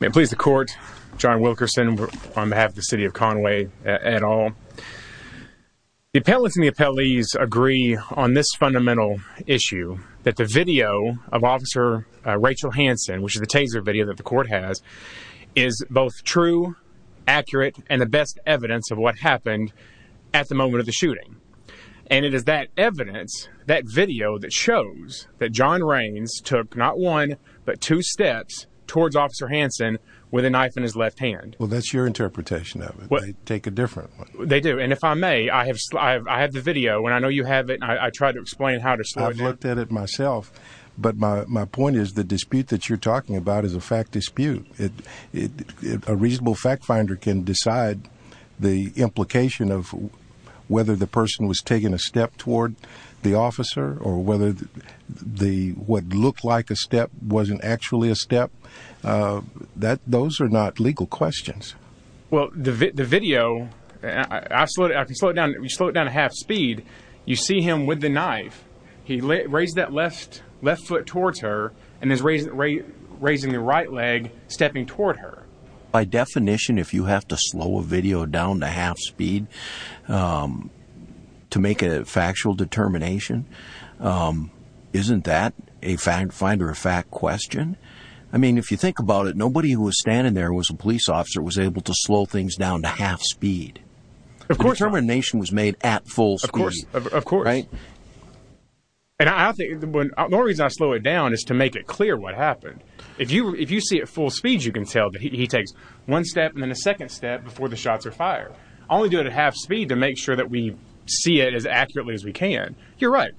May it please the Court, John Wilkerson on behalf of the City of Conway et al. The appellants and the appellees agree on this fundamental issue, that the video of Officer Rachel Hansen, which is the taser video that the Court has, is both true, accurate, and the best evidence of what happened at the moment of the shooting. And it is that evidence, that video, that shows that John Raines took not one, but two steps towards Officer Hansen with a knife in his left hand. Well, that's your interpretation of it. They take a different one. They do, and if I may, I have the video, and I know you have it, and I tried to explain how to sludge it. I've looked at it myself, but my point is, the dispute that you're talking about is a fact dispute. A reasonable fact finder can decide the implication of whether the person was taking a step toward the officer, or whether what looked like a step wasn't actually a step. Those are not legal questions. Well, the video, I can slow it down to half speed. You see him with the knife. He raised that left foot towards her, and is raising the right leg, stepping toward her. By definition, if you have to slow a video down to half speed to make a factual determination, isn't that a fact finder, a fact question? I mean, if you think about it, nobody who was standing there who was a police officer was able to slow things down to half speed. Of course not. Determination was made at full speed. Of course. Right? And I think, the only reason I slow it down is to make it clear what happened. If you see it full speed, you can tell that he takes one step and then a second step before the shots are fired. I only do it at half speed to make sure that we see it as accurately as we can. You're right.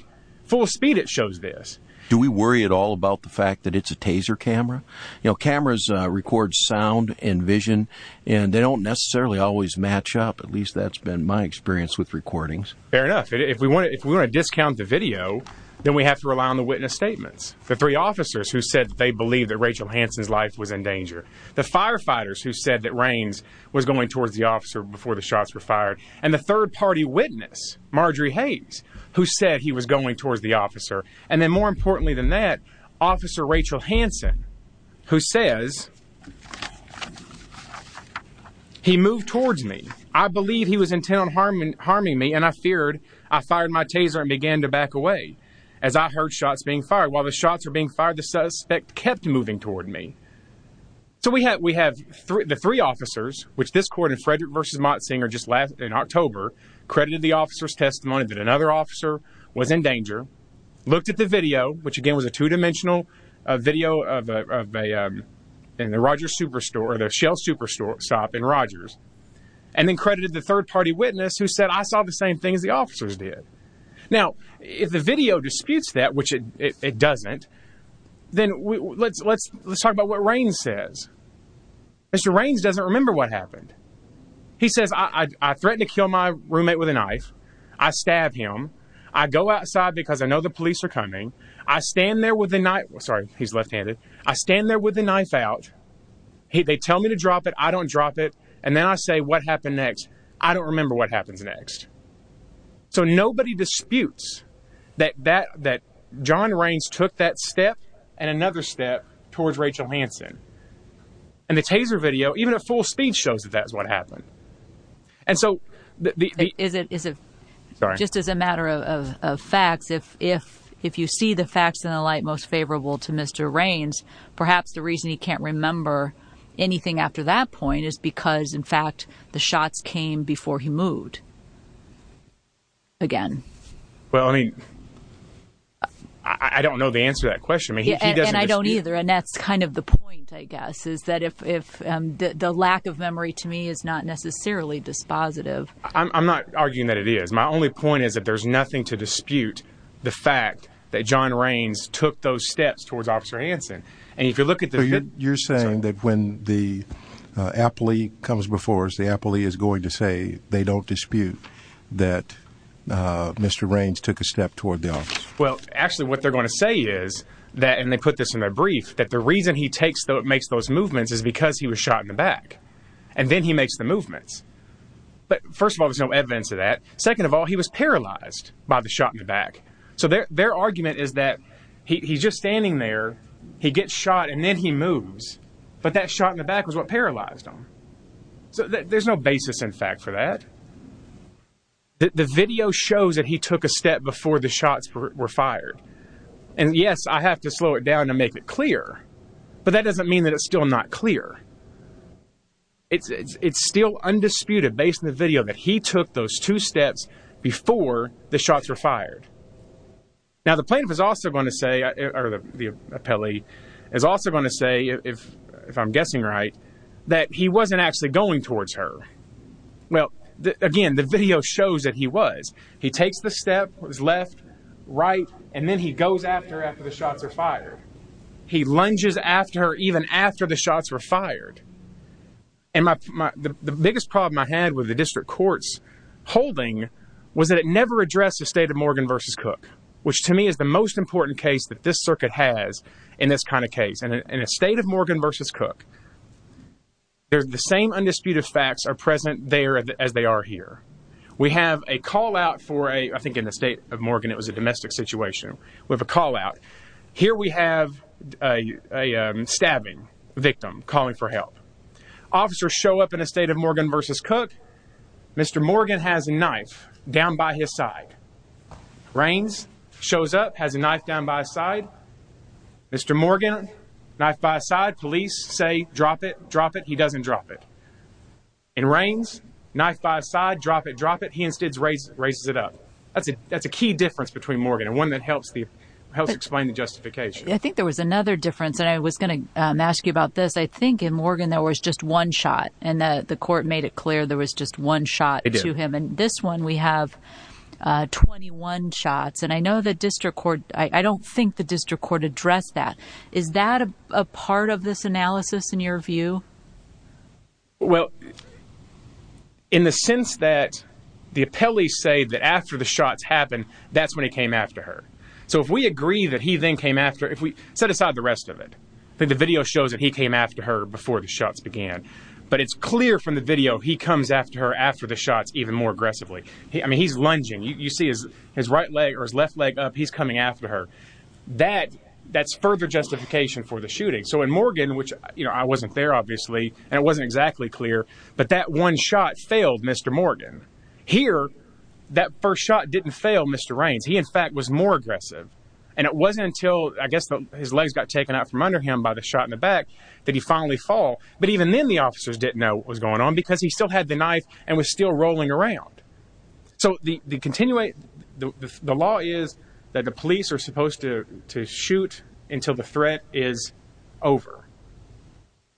Full speed, it shows this. Do we worry at all about the fact that it's a taser camera? You know, cameras record sound and vision, and they don't necessarily always match up. At least that's been my experience with recordings. Fair enough. If we want to discount the video, then we have to rely on the witness statements. The three officers who said they believed that Rachel Hansen's life was in danger. The firefighters who said that Raines was going towards the officer before the shots were fired. And the third party witness, Marjorie Hayes, who said he was going towards the officer. And then more importantly than that, Officer Rachel Hansen, who says, He moved towards me. I believe he was intent on harming me, and I feared. I fired my taser and began to back away as I heard shots being fired. While the shots were being fired, the suspect kept moving toward me. So we have the three officers, which this court in Frederick v. Motsinger, just last October, looked at the video, which again was a two-dimensional video in the Roger's Superstore, or the Shell Superstore shop in Rogers, and then credited the third party witness, who said, I saw the same things the officers did. Now, if the video disputes that, which it doesn't, then let's talk about what Raines says. Mr. Raines doesn't remember what happened. He says, I threatened to kill my roommate with a knife. I stabbed him. I go outside because I know the police are coming. I stand there with a knife. Sorry, he's left-handed. I stand there with a knife out. They tell me to drop it. I don't drop it. And then I say, what happened next? I don't remember what happens next. So nobody disputes that John Raines took that step and another step towards Rachel Hansen. And the taser video, even at full speed, shows that that's what happened. And so... Just as a matter of facts, if you see the facts in the light most favorable to Mr. Raines, perhaps the reason he can't remember anything after that point is because, in fact, the shots came before he moved again. Well, I mean, I don't know the answer to that question. And I don't either. And that's kind of the point, I guess, is that the lack of memory to me is not necessarily dispositive. I'm not arguing that it is. My only point is that there's nothing to dispute the fact that John Raines took those steps towards Officer Hansen. And if you look at the... You're saying that when the appellee comes before us, the appellee is going to say they don't dispute that Mr. Raines took a step toward the office? Well, actually, what they're going to say is, and they put this in their brief, that the reason he makes those movements is because he was shot in the back. And then he makes the movements. But first of all, there's no evidence of that. Second of all, he was paralyzed by the shot in the back. So their argument is that he's just standing there, he gets shot, and then he moves. But that shot in the back was what paralyzed him. So there's no basis, in fact, for that. The video shows that he took a step before the shots were fired. And, yes, I have to slow it down to make it clear, but that doesn't mean that it's still not clear. It's still undisputed, based on the video, that he took those two steps before the shots were fired. Now, the plaintiff is also going to say, or the appellee, is also going to say, if I'm guessing right, that he wasn't actually going towards her. Well, again, the video shows that he was. He takes the step, his left, right, and then he goes after her after the shots are fired. He lunges after her even after the shots were fired. And the biggest problem I had with the district court's holding was that it never addressed the state of Morgan v. Cook, which to me is the most important case that this circuit has in this kind of case. In a state of Morgan v. Cook, the same undisputed facts are present there as they are here. We have a callout for a, I think in the state of Morgan it was a domestic situation, we have a callout. Here we have a stabbing victim calling for help. Officers show up in a state of Morgan v. Cook. Mr. Morgan has a knife down by his side. Raines shows up, has a knife down by his side. Mr. Morgan, knife by his side. Police say, drop it, drop it. He doesn't drop it. And Raines, knife by his side, drop it, drop it. He instead raises it up. That's a key difference between Morgan and one that helps explain the justification. I think there was another difference, and I was going to ask you about this. I think in Morgan there was just one shot, and the court made it clear there was just one shot to him. And this one we have 21 shots. And I know the district court, I don't think the district court addressed that. Is that a part of this analysis in your view? Well, in the sense that the appellees say that after the shots happened, that's when he came after her. So if we agree that he then came after her, set aside the rest of it. The video shows that he came after her before the shots began. But it's clear from the video he comes after her after the shots even more aggressively. I mean, he's lunging. You see his right leg or his left leg up, he's coming after her. That's further justification for the shooting. So in Morgan, which I wasn't there, obviously, and it wasn't exactly clear, but that one shot failed Mr. Morgan. Here, that first shot didn't fail Mr. Raines. He, in fact, was more aggressive. And it wasn't until, I guess, his legs got taken out from under him by the shot in the back that he finally fell. But even then the officers didn't know what was going on because he still had the knife and was still rolling around. So the law is that the police are supposed to shoot until the threat is over.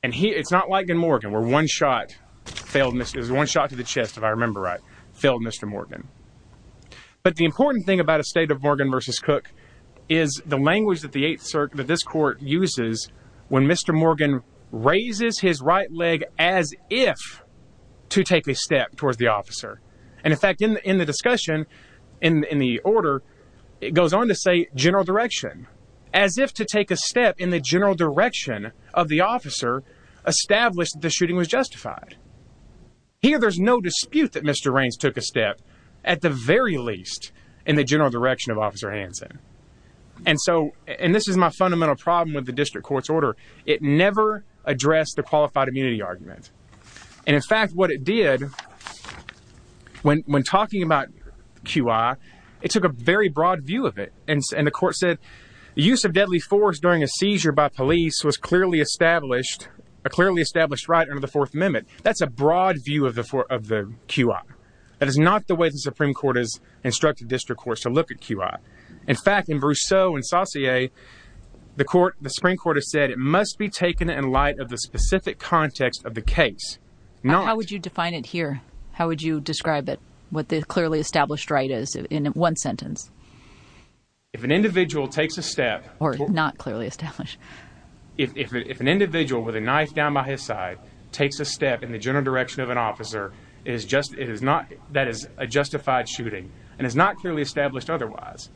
And it's not like in Morgan where one shot failed, one shot to the chest, if I remember right, failed Mr. Morgan. But the important thing about a state of Morgan v. Cook is the language that this court uses when Mr. Morgan raises his right leg as if to take a step towards the officer. And, in fact, in the discussion, in the order, it goes on to say general direction. As if to take a step in the general direction of the officer established that the shooting was justified. Here, there's no dispute that Mr. Raines took a step, at the very least, in the general direction of Officer Hanson. And so, and this is my fundamental problem with the district court's order, it never addressed the qualified immunity argument. And, in fact, what it did, when talking about QI, it took a very broad view of it. And the court said the use of deadly force during a seizure by police was clearly established, a clearly established right under the Fourth Amendment. That's a broad view of the QI. That is not the way the Supreme Court has instructed district courts to look at QI. In fact, in Brousseau and Saussure, the Supreme Court has said it must be taken in light of the specific context of the case. How would you define it here? How would you describe it, what the clearly established right is, in one sentence? If an individual takes a step. Or not clearly established. If an individual with a knife down by his side takes a step in the general direction of an officer, that is a justified shooting. And it's not clearly established otherwise.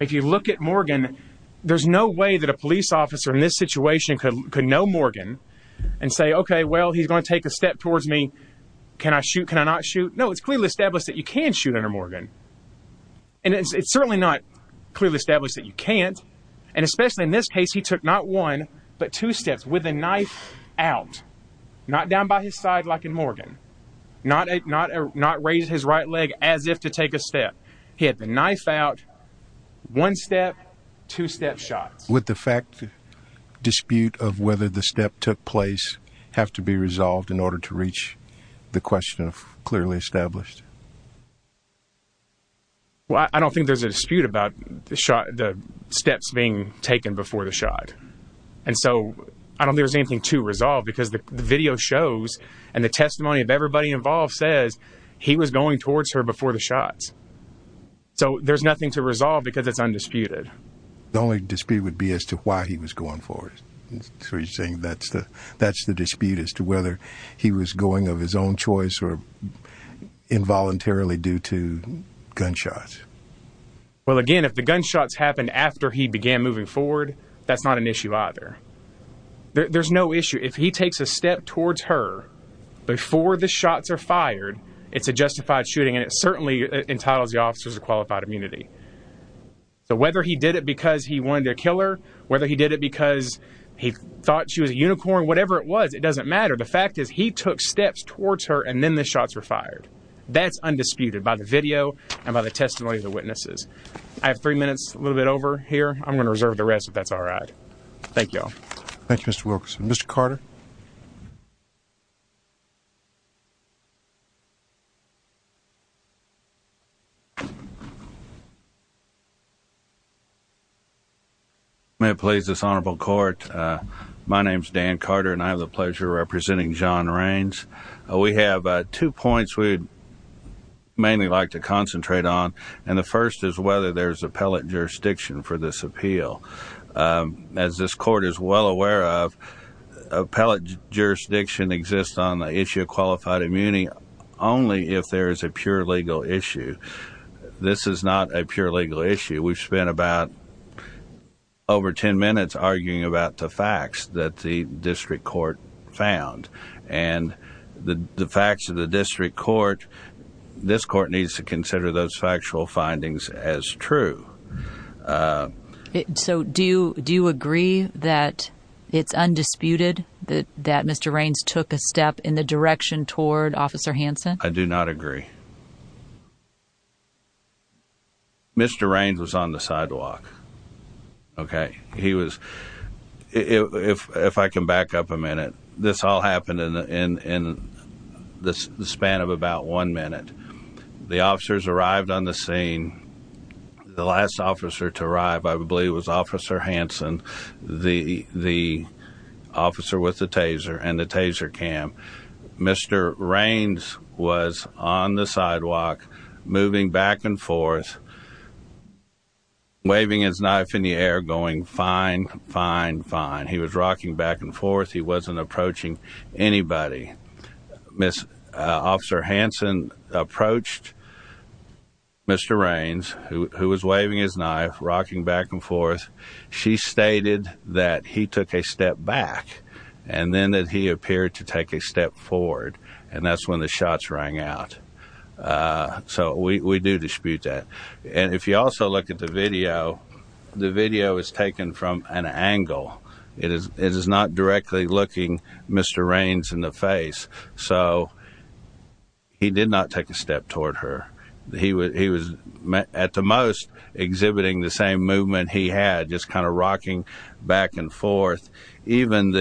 If you look at Morgan, there's no way that a police officer in this situation could know Morgan and say, OK, well, he's going to take a step towards me. Can I shoot? Can I not shoot? No, it's clearly established that you can shoot under Morgan. And it's certainly not clearly established that you can't. And especially in this case, he took not one, but two steps with a knife out. Not down by his side like in Morgan. Not raise his right leg as if to take a step. He had the knife out, one step, two step shots. Would the fact dispute of whether the step took place have to be resolved in order to reach the question of clearly established? Well, I don't think there's a dispute about the steps being taken before the shot. And so I don't think there's anything to resolve because the video shows and the testimony of everybody involved says he was going towards her before the shots. So there's nothing to resolve because it's undisputed. The only dispute would be as to why he was going forward. So you're saying that's the that's the dispute as to whether he was going of his own choice or involuntarily due to gunshots. Well, again, if the gunshots happened after he began moving forward, that's not an issue either. There's no issue if he takes a step towards her before the shots are fired. It's a justified shooting, and it certainly entitles the officers to qualified immunity. So whether he did it because he wanted to kill her, whether he did it because he thought she was a unicorn, whatever it was, it doesn't matter. The fact is, he took steps towards her and then the shots were fired. That's undisputed by the video and by the testimony of the witnesses. I have three minutes, a little bit over here. I'm going to reserve the rest if that's all right. Thank you. Thank you, Mr. Wilkerson. Mr. Carter. May it please this honorable court. My name's Dan Carter and I have the pleasure of representing John Raines. We have two points we'd mainly like to concentrate on. And the first is whether there's appellate jurisdiction for this appeal. As this court is well aware of, appellate jurisdiction exists on the issue of qualified immunity only if there is a pure legal issue. This is not a pure legal issue. We've spent about over 10 minutes arguing about the facts that the district court found. And the facts of the district court, this court needs to consider those factual findings as true. So do you agree that it's undisputed that Mr. Raines took a step in the direction toward Officer Hanson? I do not agree. Mr. Raines was on the sidewalk. Okay, he was. If I can back up a minute, this all happened in the span of about one minute. The officers arrived on the scene. The last officer to arrive, I believe, was Officer Hanson, the officer with the taser and the taser cam. Mr. Raines was on the sidewalk, moving back and forth, waving his knife in the air, going, Fine, fine, fine. He was rocking back and forth. He wasn't approaching anybody. Officer Hanson approached Mr. Raines, who was waving his knife, rocking back and forth. She stated that he took a step back and then that he appeared to take a step forward. And that's when the shots rang out. So we do dispute that. And if you also look at the video, the video is taken from an angle. It is not directly looking Mr. Raines in the face. So he did not take a step toward her. He was, at the most, exhibiting the same movement he had, just kind of rocking back and forth. Even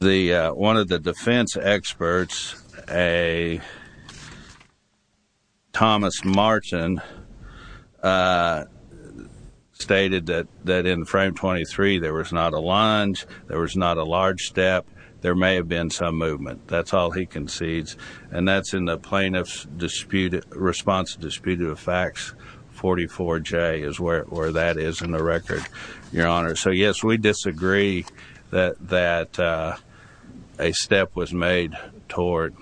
one of the defense experts, Thomas Martin, stated that in frame 23 there was not a lunge, there was not a large step, there may have been some movement. That's all he concedes. And that's in the Plaintiff's Response to the Dispute of the Facts 44J, is where that is in the record, Your Honor. So yes, we disagree that a step was made toward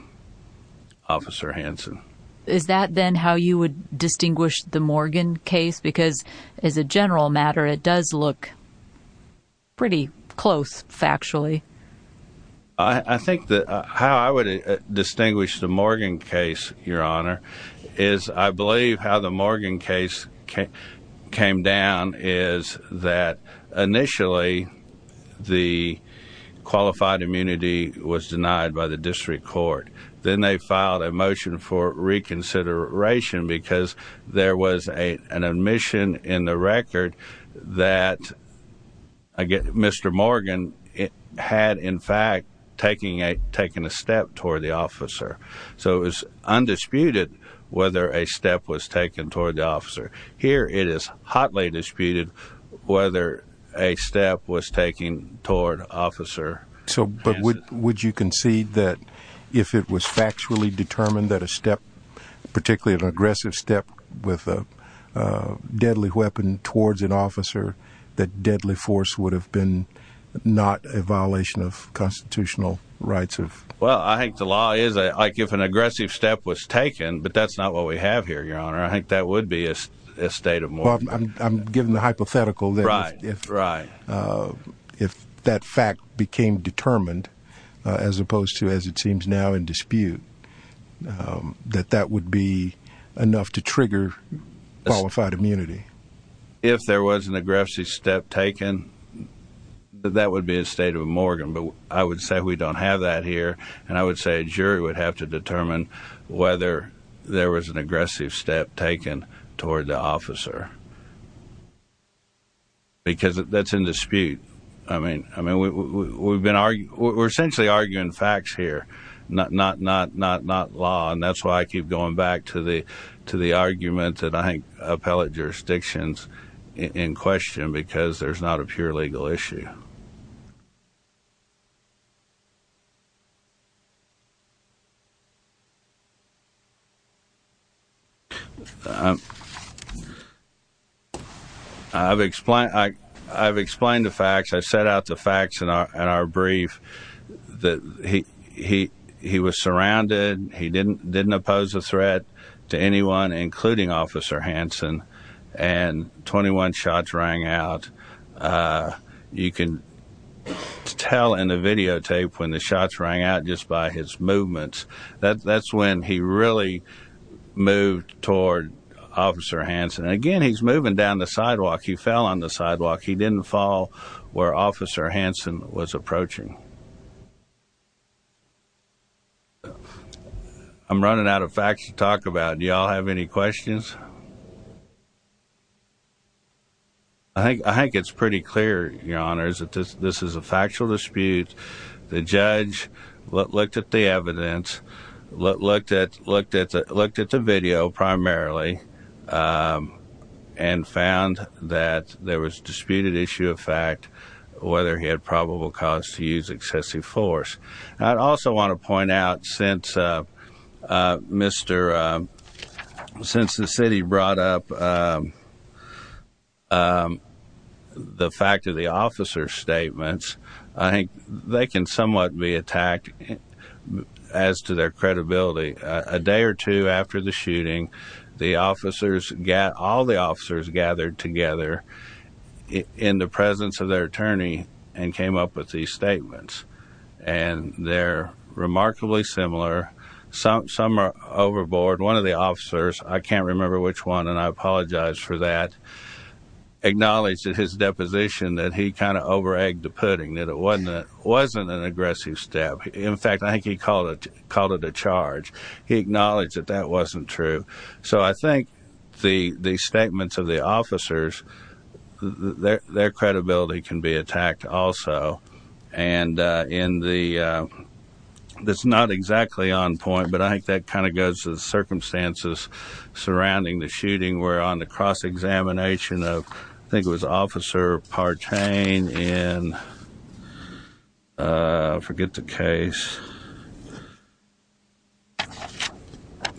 Officer Hanson. Is that then how you would distinguish the Morgan case? Because as a general matter, it does look pretty close, factually. I think that how I would distinguish the Morgan case, Your Honor, is I believe how the Morgan case came down is that initially the qualified immunity was denied by the district court. Then they filed a motion for reconsideration because there was an admission in the record that Mr. Morgan had, in fact, taken a step toward the officer. So it was undisputed whether a step was taken toward the officer. Here it is hotly disputed whether a step was taken toward Officer Hanson. But would you concede that if it was factually determined that a step, particularly an aggressive step with a deadly weapon towards an officer, that deadly force would have been not a violation of constitutional rights? Well, I think the law is like if an aggressive step was taken, but that's not what we have here, Your Honor. I think that would be a state of Morgan. I'm giving the hypothetical that if that fact became determined, as opposed to as it seems now in dispute, that that would be enough to trigger qualified immunity. If there was an aggressive step taken, that would be a state of Morgan. But I would say we don't have that here. And I would say a jury would have to determine whether there was an aggressive step taken toward the officer. Because that's in dispute. I mean, we're essentially arguing facts here, not law. And that's why I keep going back to the argument that I think appellate jurisdictions in question, because there's not a pure legal issue. Thank you, Your Honor. I've explained the facts. I've set out the facts in our brief that he was surrounded. He didn't oppose a threat to anyone, including Officer Hanson. And 21 shots rang out. You can tell in the videotape when the shots rang out just by his movements. That's when he really moved toward Officer Hanson. And again, he's moving down the sidewalk. He fell on the sidewalk. He didn't fall where Officer Hanson was approaching. I'm running out of facts to talk about. Do you all have any questions? I think it's pretty clear, Your Honor, that this is a factual dispute. The judge looked at the evidence, looked at the video primarily, and found that there was a disputed issue of fact, whether he had probable cause to use excessive force. I'd also want to point out, since the city brought up the fact of the officers' statements, I think they can somewhat be attacked as to their credibility. A day or two after the shooting, all the officers gathered together in the presence of their attorney and came up with these statements. And they're remarkably similar. Some are overboard. One of the officers, I can't remember which one, and I apologize for that, acknowledged in his deposition that he kind of over-egged the pudding, that it wasn't an aggressive step. In fact, I think he called it a charge. He acknowledged that that wasn't true. So I think the statements of the officers, their credibility can be attacked also. And that's not exactly on point, but I think that kind of goes to the circumstances surrounding the shooting where on the cross-examination of, I think it was Officer Partain in, I forget the case,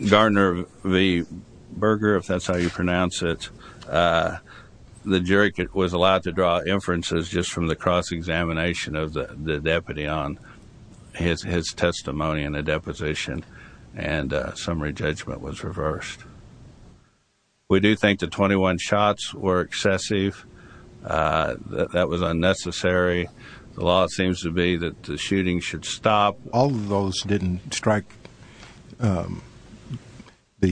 Gardner v. Berger, if that's how you pronounce it, the jury was allowed to draw inferences just from the cross-examination of the deputy on his testimony in a deposition, and summary judgment was reversed. We do think the 21 shots were excessive. That was unnecessary. The law seems to be that the shooting should stop. All of those shots didn't strike, did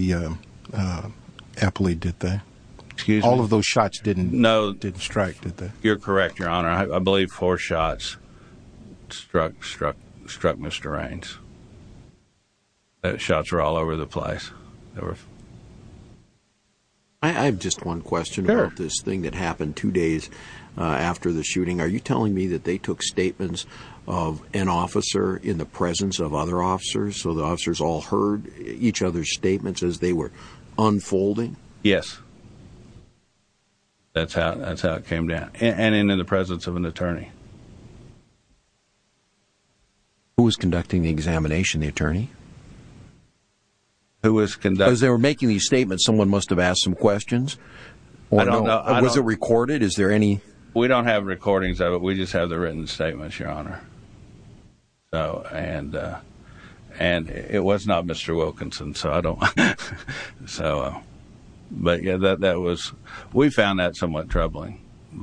they? You're correct, Your Honor. I believe four shots struck Mr. Raines. The shots were all over the place. I have just one question about this thing that happened two days after the shooting. Are you telling me that they took statements of an officer in the presence of other officers, so the officers all heard each other's statements as they were unfolding? Yes. That's how it came down, and in the presence of an attorney. Who was conducting the examination, the attorney? Because they were making these statements, someone must have asked some questions. Was it recorded? We don't have recordings of it. We just have the written statements, Your Honor. And it was not Mr. Wilkinson. We found that somewhat troubling. Is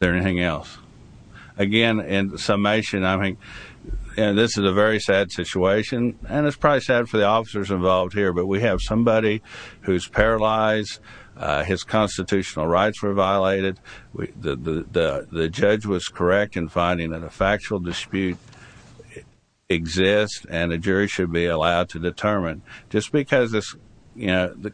there anything else? Again, in summation, this is a very sad situation, and it's probably sad for the officers involved here, but we have somebody who's paralyzed. His constitutional rights were violated. The judge was correct in finding that a factual dispute exists, and a jury should be allowed to determine. Just because the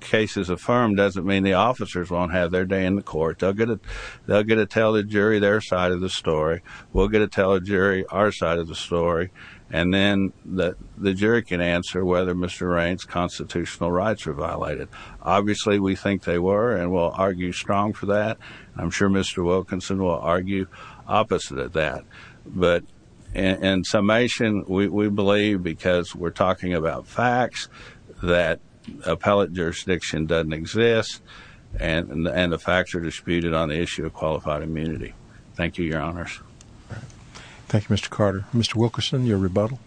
case is affirmed doesn't mean the officers won't have their day in the court. They'll get to tell the jury their side of the story. We'll get to tell the jury our side of the story, and then the jury can answer whether Mr. Raines' constitutional rights were violated. Obviously, we think they were, and we'll argue strong for that. I'm sure Mr. Wilkinson will argue opposite of that. But in summation, we believe, because we're talking about facts, that appellate jurisdiction doesn't exist, and the facts are disputed on the issue of qualified immunity. Thank you, Your Honors. Thank you, Mr. Carter. Mr. Wilkinson, your rebuttal.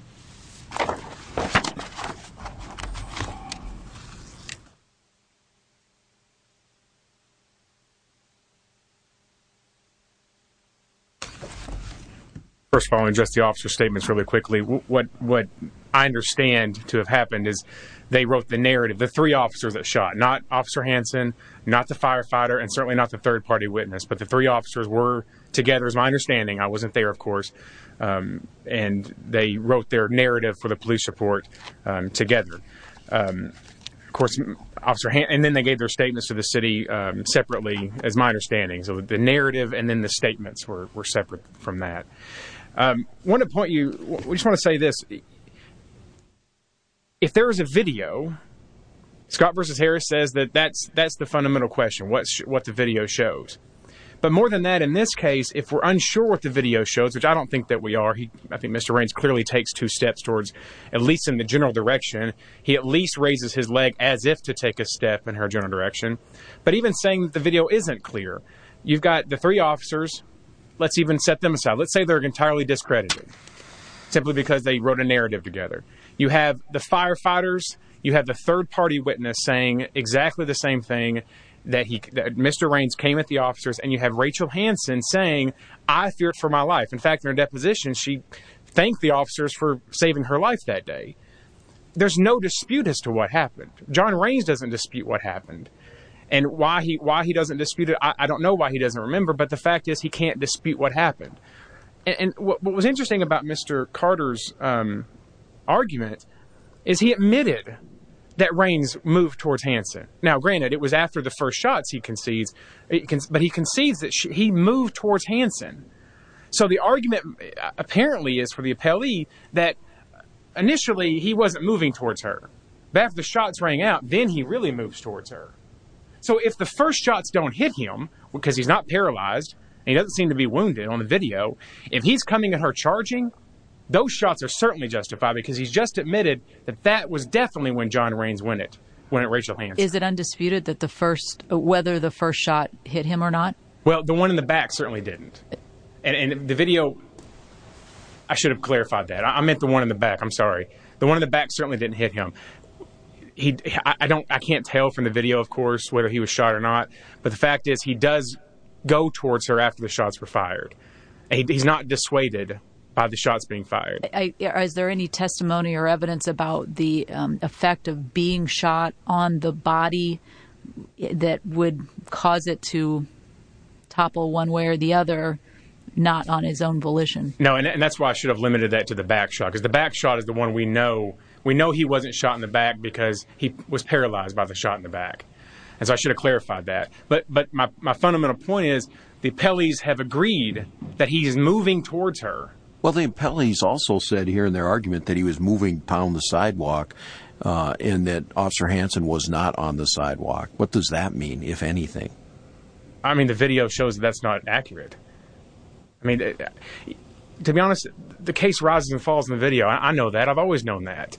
First of all, I'll address the officer's statements really quickly. What I understand to have happened is they wrote the narrative. The three officers that shot, not Officer Hanson, not the firefighter, and certainly not the third-party witness, but the three officers were together, as my understanding. I wasn't there, of course. And they wrote their narrative for the police report together. Of course, Officer Hanson, and then they gave their statements to the city separately, as my understanding. So the narrative and then the statements were separate from that. I want to point you, I just want to say this. If there is a video, Scott v. Harris says that that's the fundamental question, what the video shows. But more than that, in this case, if we're unsure what the video shows, which I don't think that we are, I think Mr. Raines clearly takes two steps towards, at least in the general direction, he at least raises his leg as if to take a step in her general direction. But even saying that the video isn't clear, you've got the three officers, let's even set them aside. Let's say they're entirely discredited, simply because they wrote a narrative together. You have the firefighters, you have the third-party witness saying exactly the same thing, that Mr. Raines came at the officers, and you have Rachel Hanson saying, I feared for my life. In fact, in her deposition, she thanked the officers for saving her life that day. There's no dispute as to what happened. John Raines doesn't dispute what happened. And why he doesn't dispute it, I don't know why he doesn't remember, but the fact is he can't dispute what happened. And what was interesting about Mr. Carter's argument is he admitted that Raines moved towards Hanson. Now, granted, it was after the first shots he concedes, but he concedes that he moved towards Hanson. So the argument apparently is for the appellee that initially he wasn't moving towards her. But after the shots rang out, then he really moves towards her. So if the first shots don't hit him, because he's not paralyzed, and he doesn't seem to be wounded on the video, if he's coming at her charging, those shots are certainly justified because he's just admitted that that was definitely when John Raines went at Rachel Hanson. Is it undisputed that the first, whether the first shot hit him or not? Well, the one in the back certainly didn't. And the video, I should have clarified that. I meant the one in the back, I'm sorry. The one in the back certainly didn't hit him. I can't tell from the video, of course, whether he was shot or not. But the fact is he does go towards her after the shots were fired. He's not dissuaded by the shots being fired. Is there any testimony or evidence about the effect of being shot on the body that would cause it to topple one way or the other, not on his own volition? No, and that's why I should have limited that to the back shot. Because the back shot is the one we know. We know he wasn't shot in the back because he was paralyzed by the shot in the back. And so I should have clarified that. But my fundamental point is the appellees have agreed that he's moving towards her. Well, the appellees also said here in their argument that he was moving down the sidewalk and that Officer Hanson was not on the sidewalk. What does that mean, if anything? I mean, the video shows that that's not accurate. I mean, to be honest, the case rises and falls in the video. I know that. I've always known that.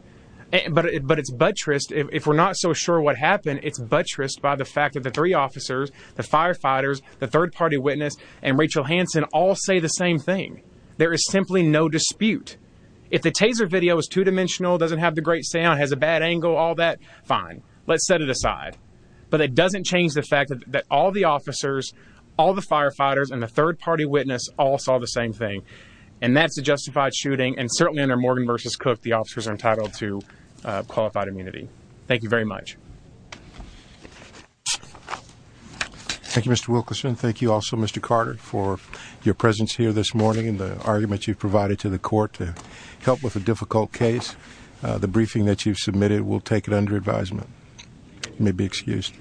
But it's buttressed. If we're not so sure what happened, it's buttressed by the fact that the three officers, the firefighters, the third-party witness, and Rachel Hanson all say the same thing. There is simply no dispute. If the Taser video is two-dimensional, doesn't have the great sound, has a bad angle, all that, fine. Let's set it aside. But it doesn't change the fact that all the officers, all the firefighters, the third-party witness, all saw the same thing. And that's a justified shooting. And certainly under Morgan v. Cook, the officers are entitled to qualified immunity. Thank you very much. Thank you, Mr. Wilkerson. Thank you also, Mr. Carter, for your presence here this morning and the argument you've provided to the court to help with a difficult case. The briefing that you've submitted will take it under advisement. You may be excused.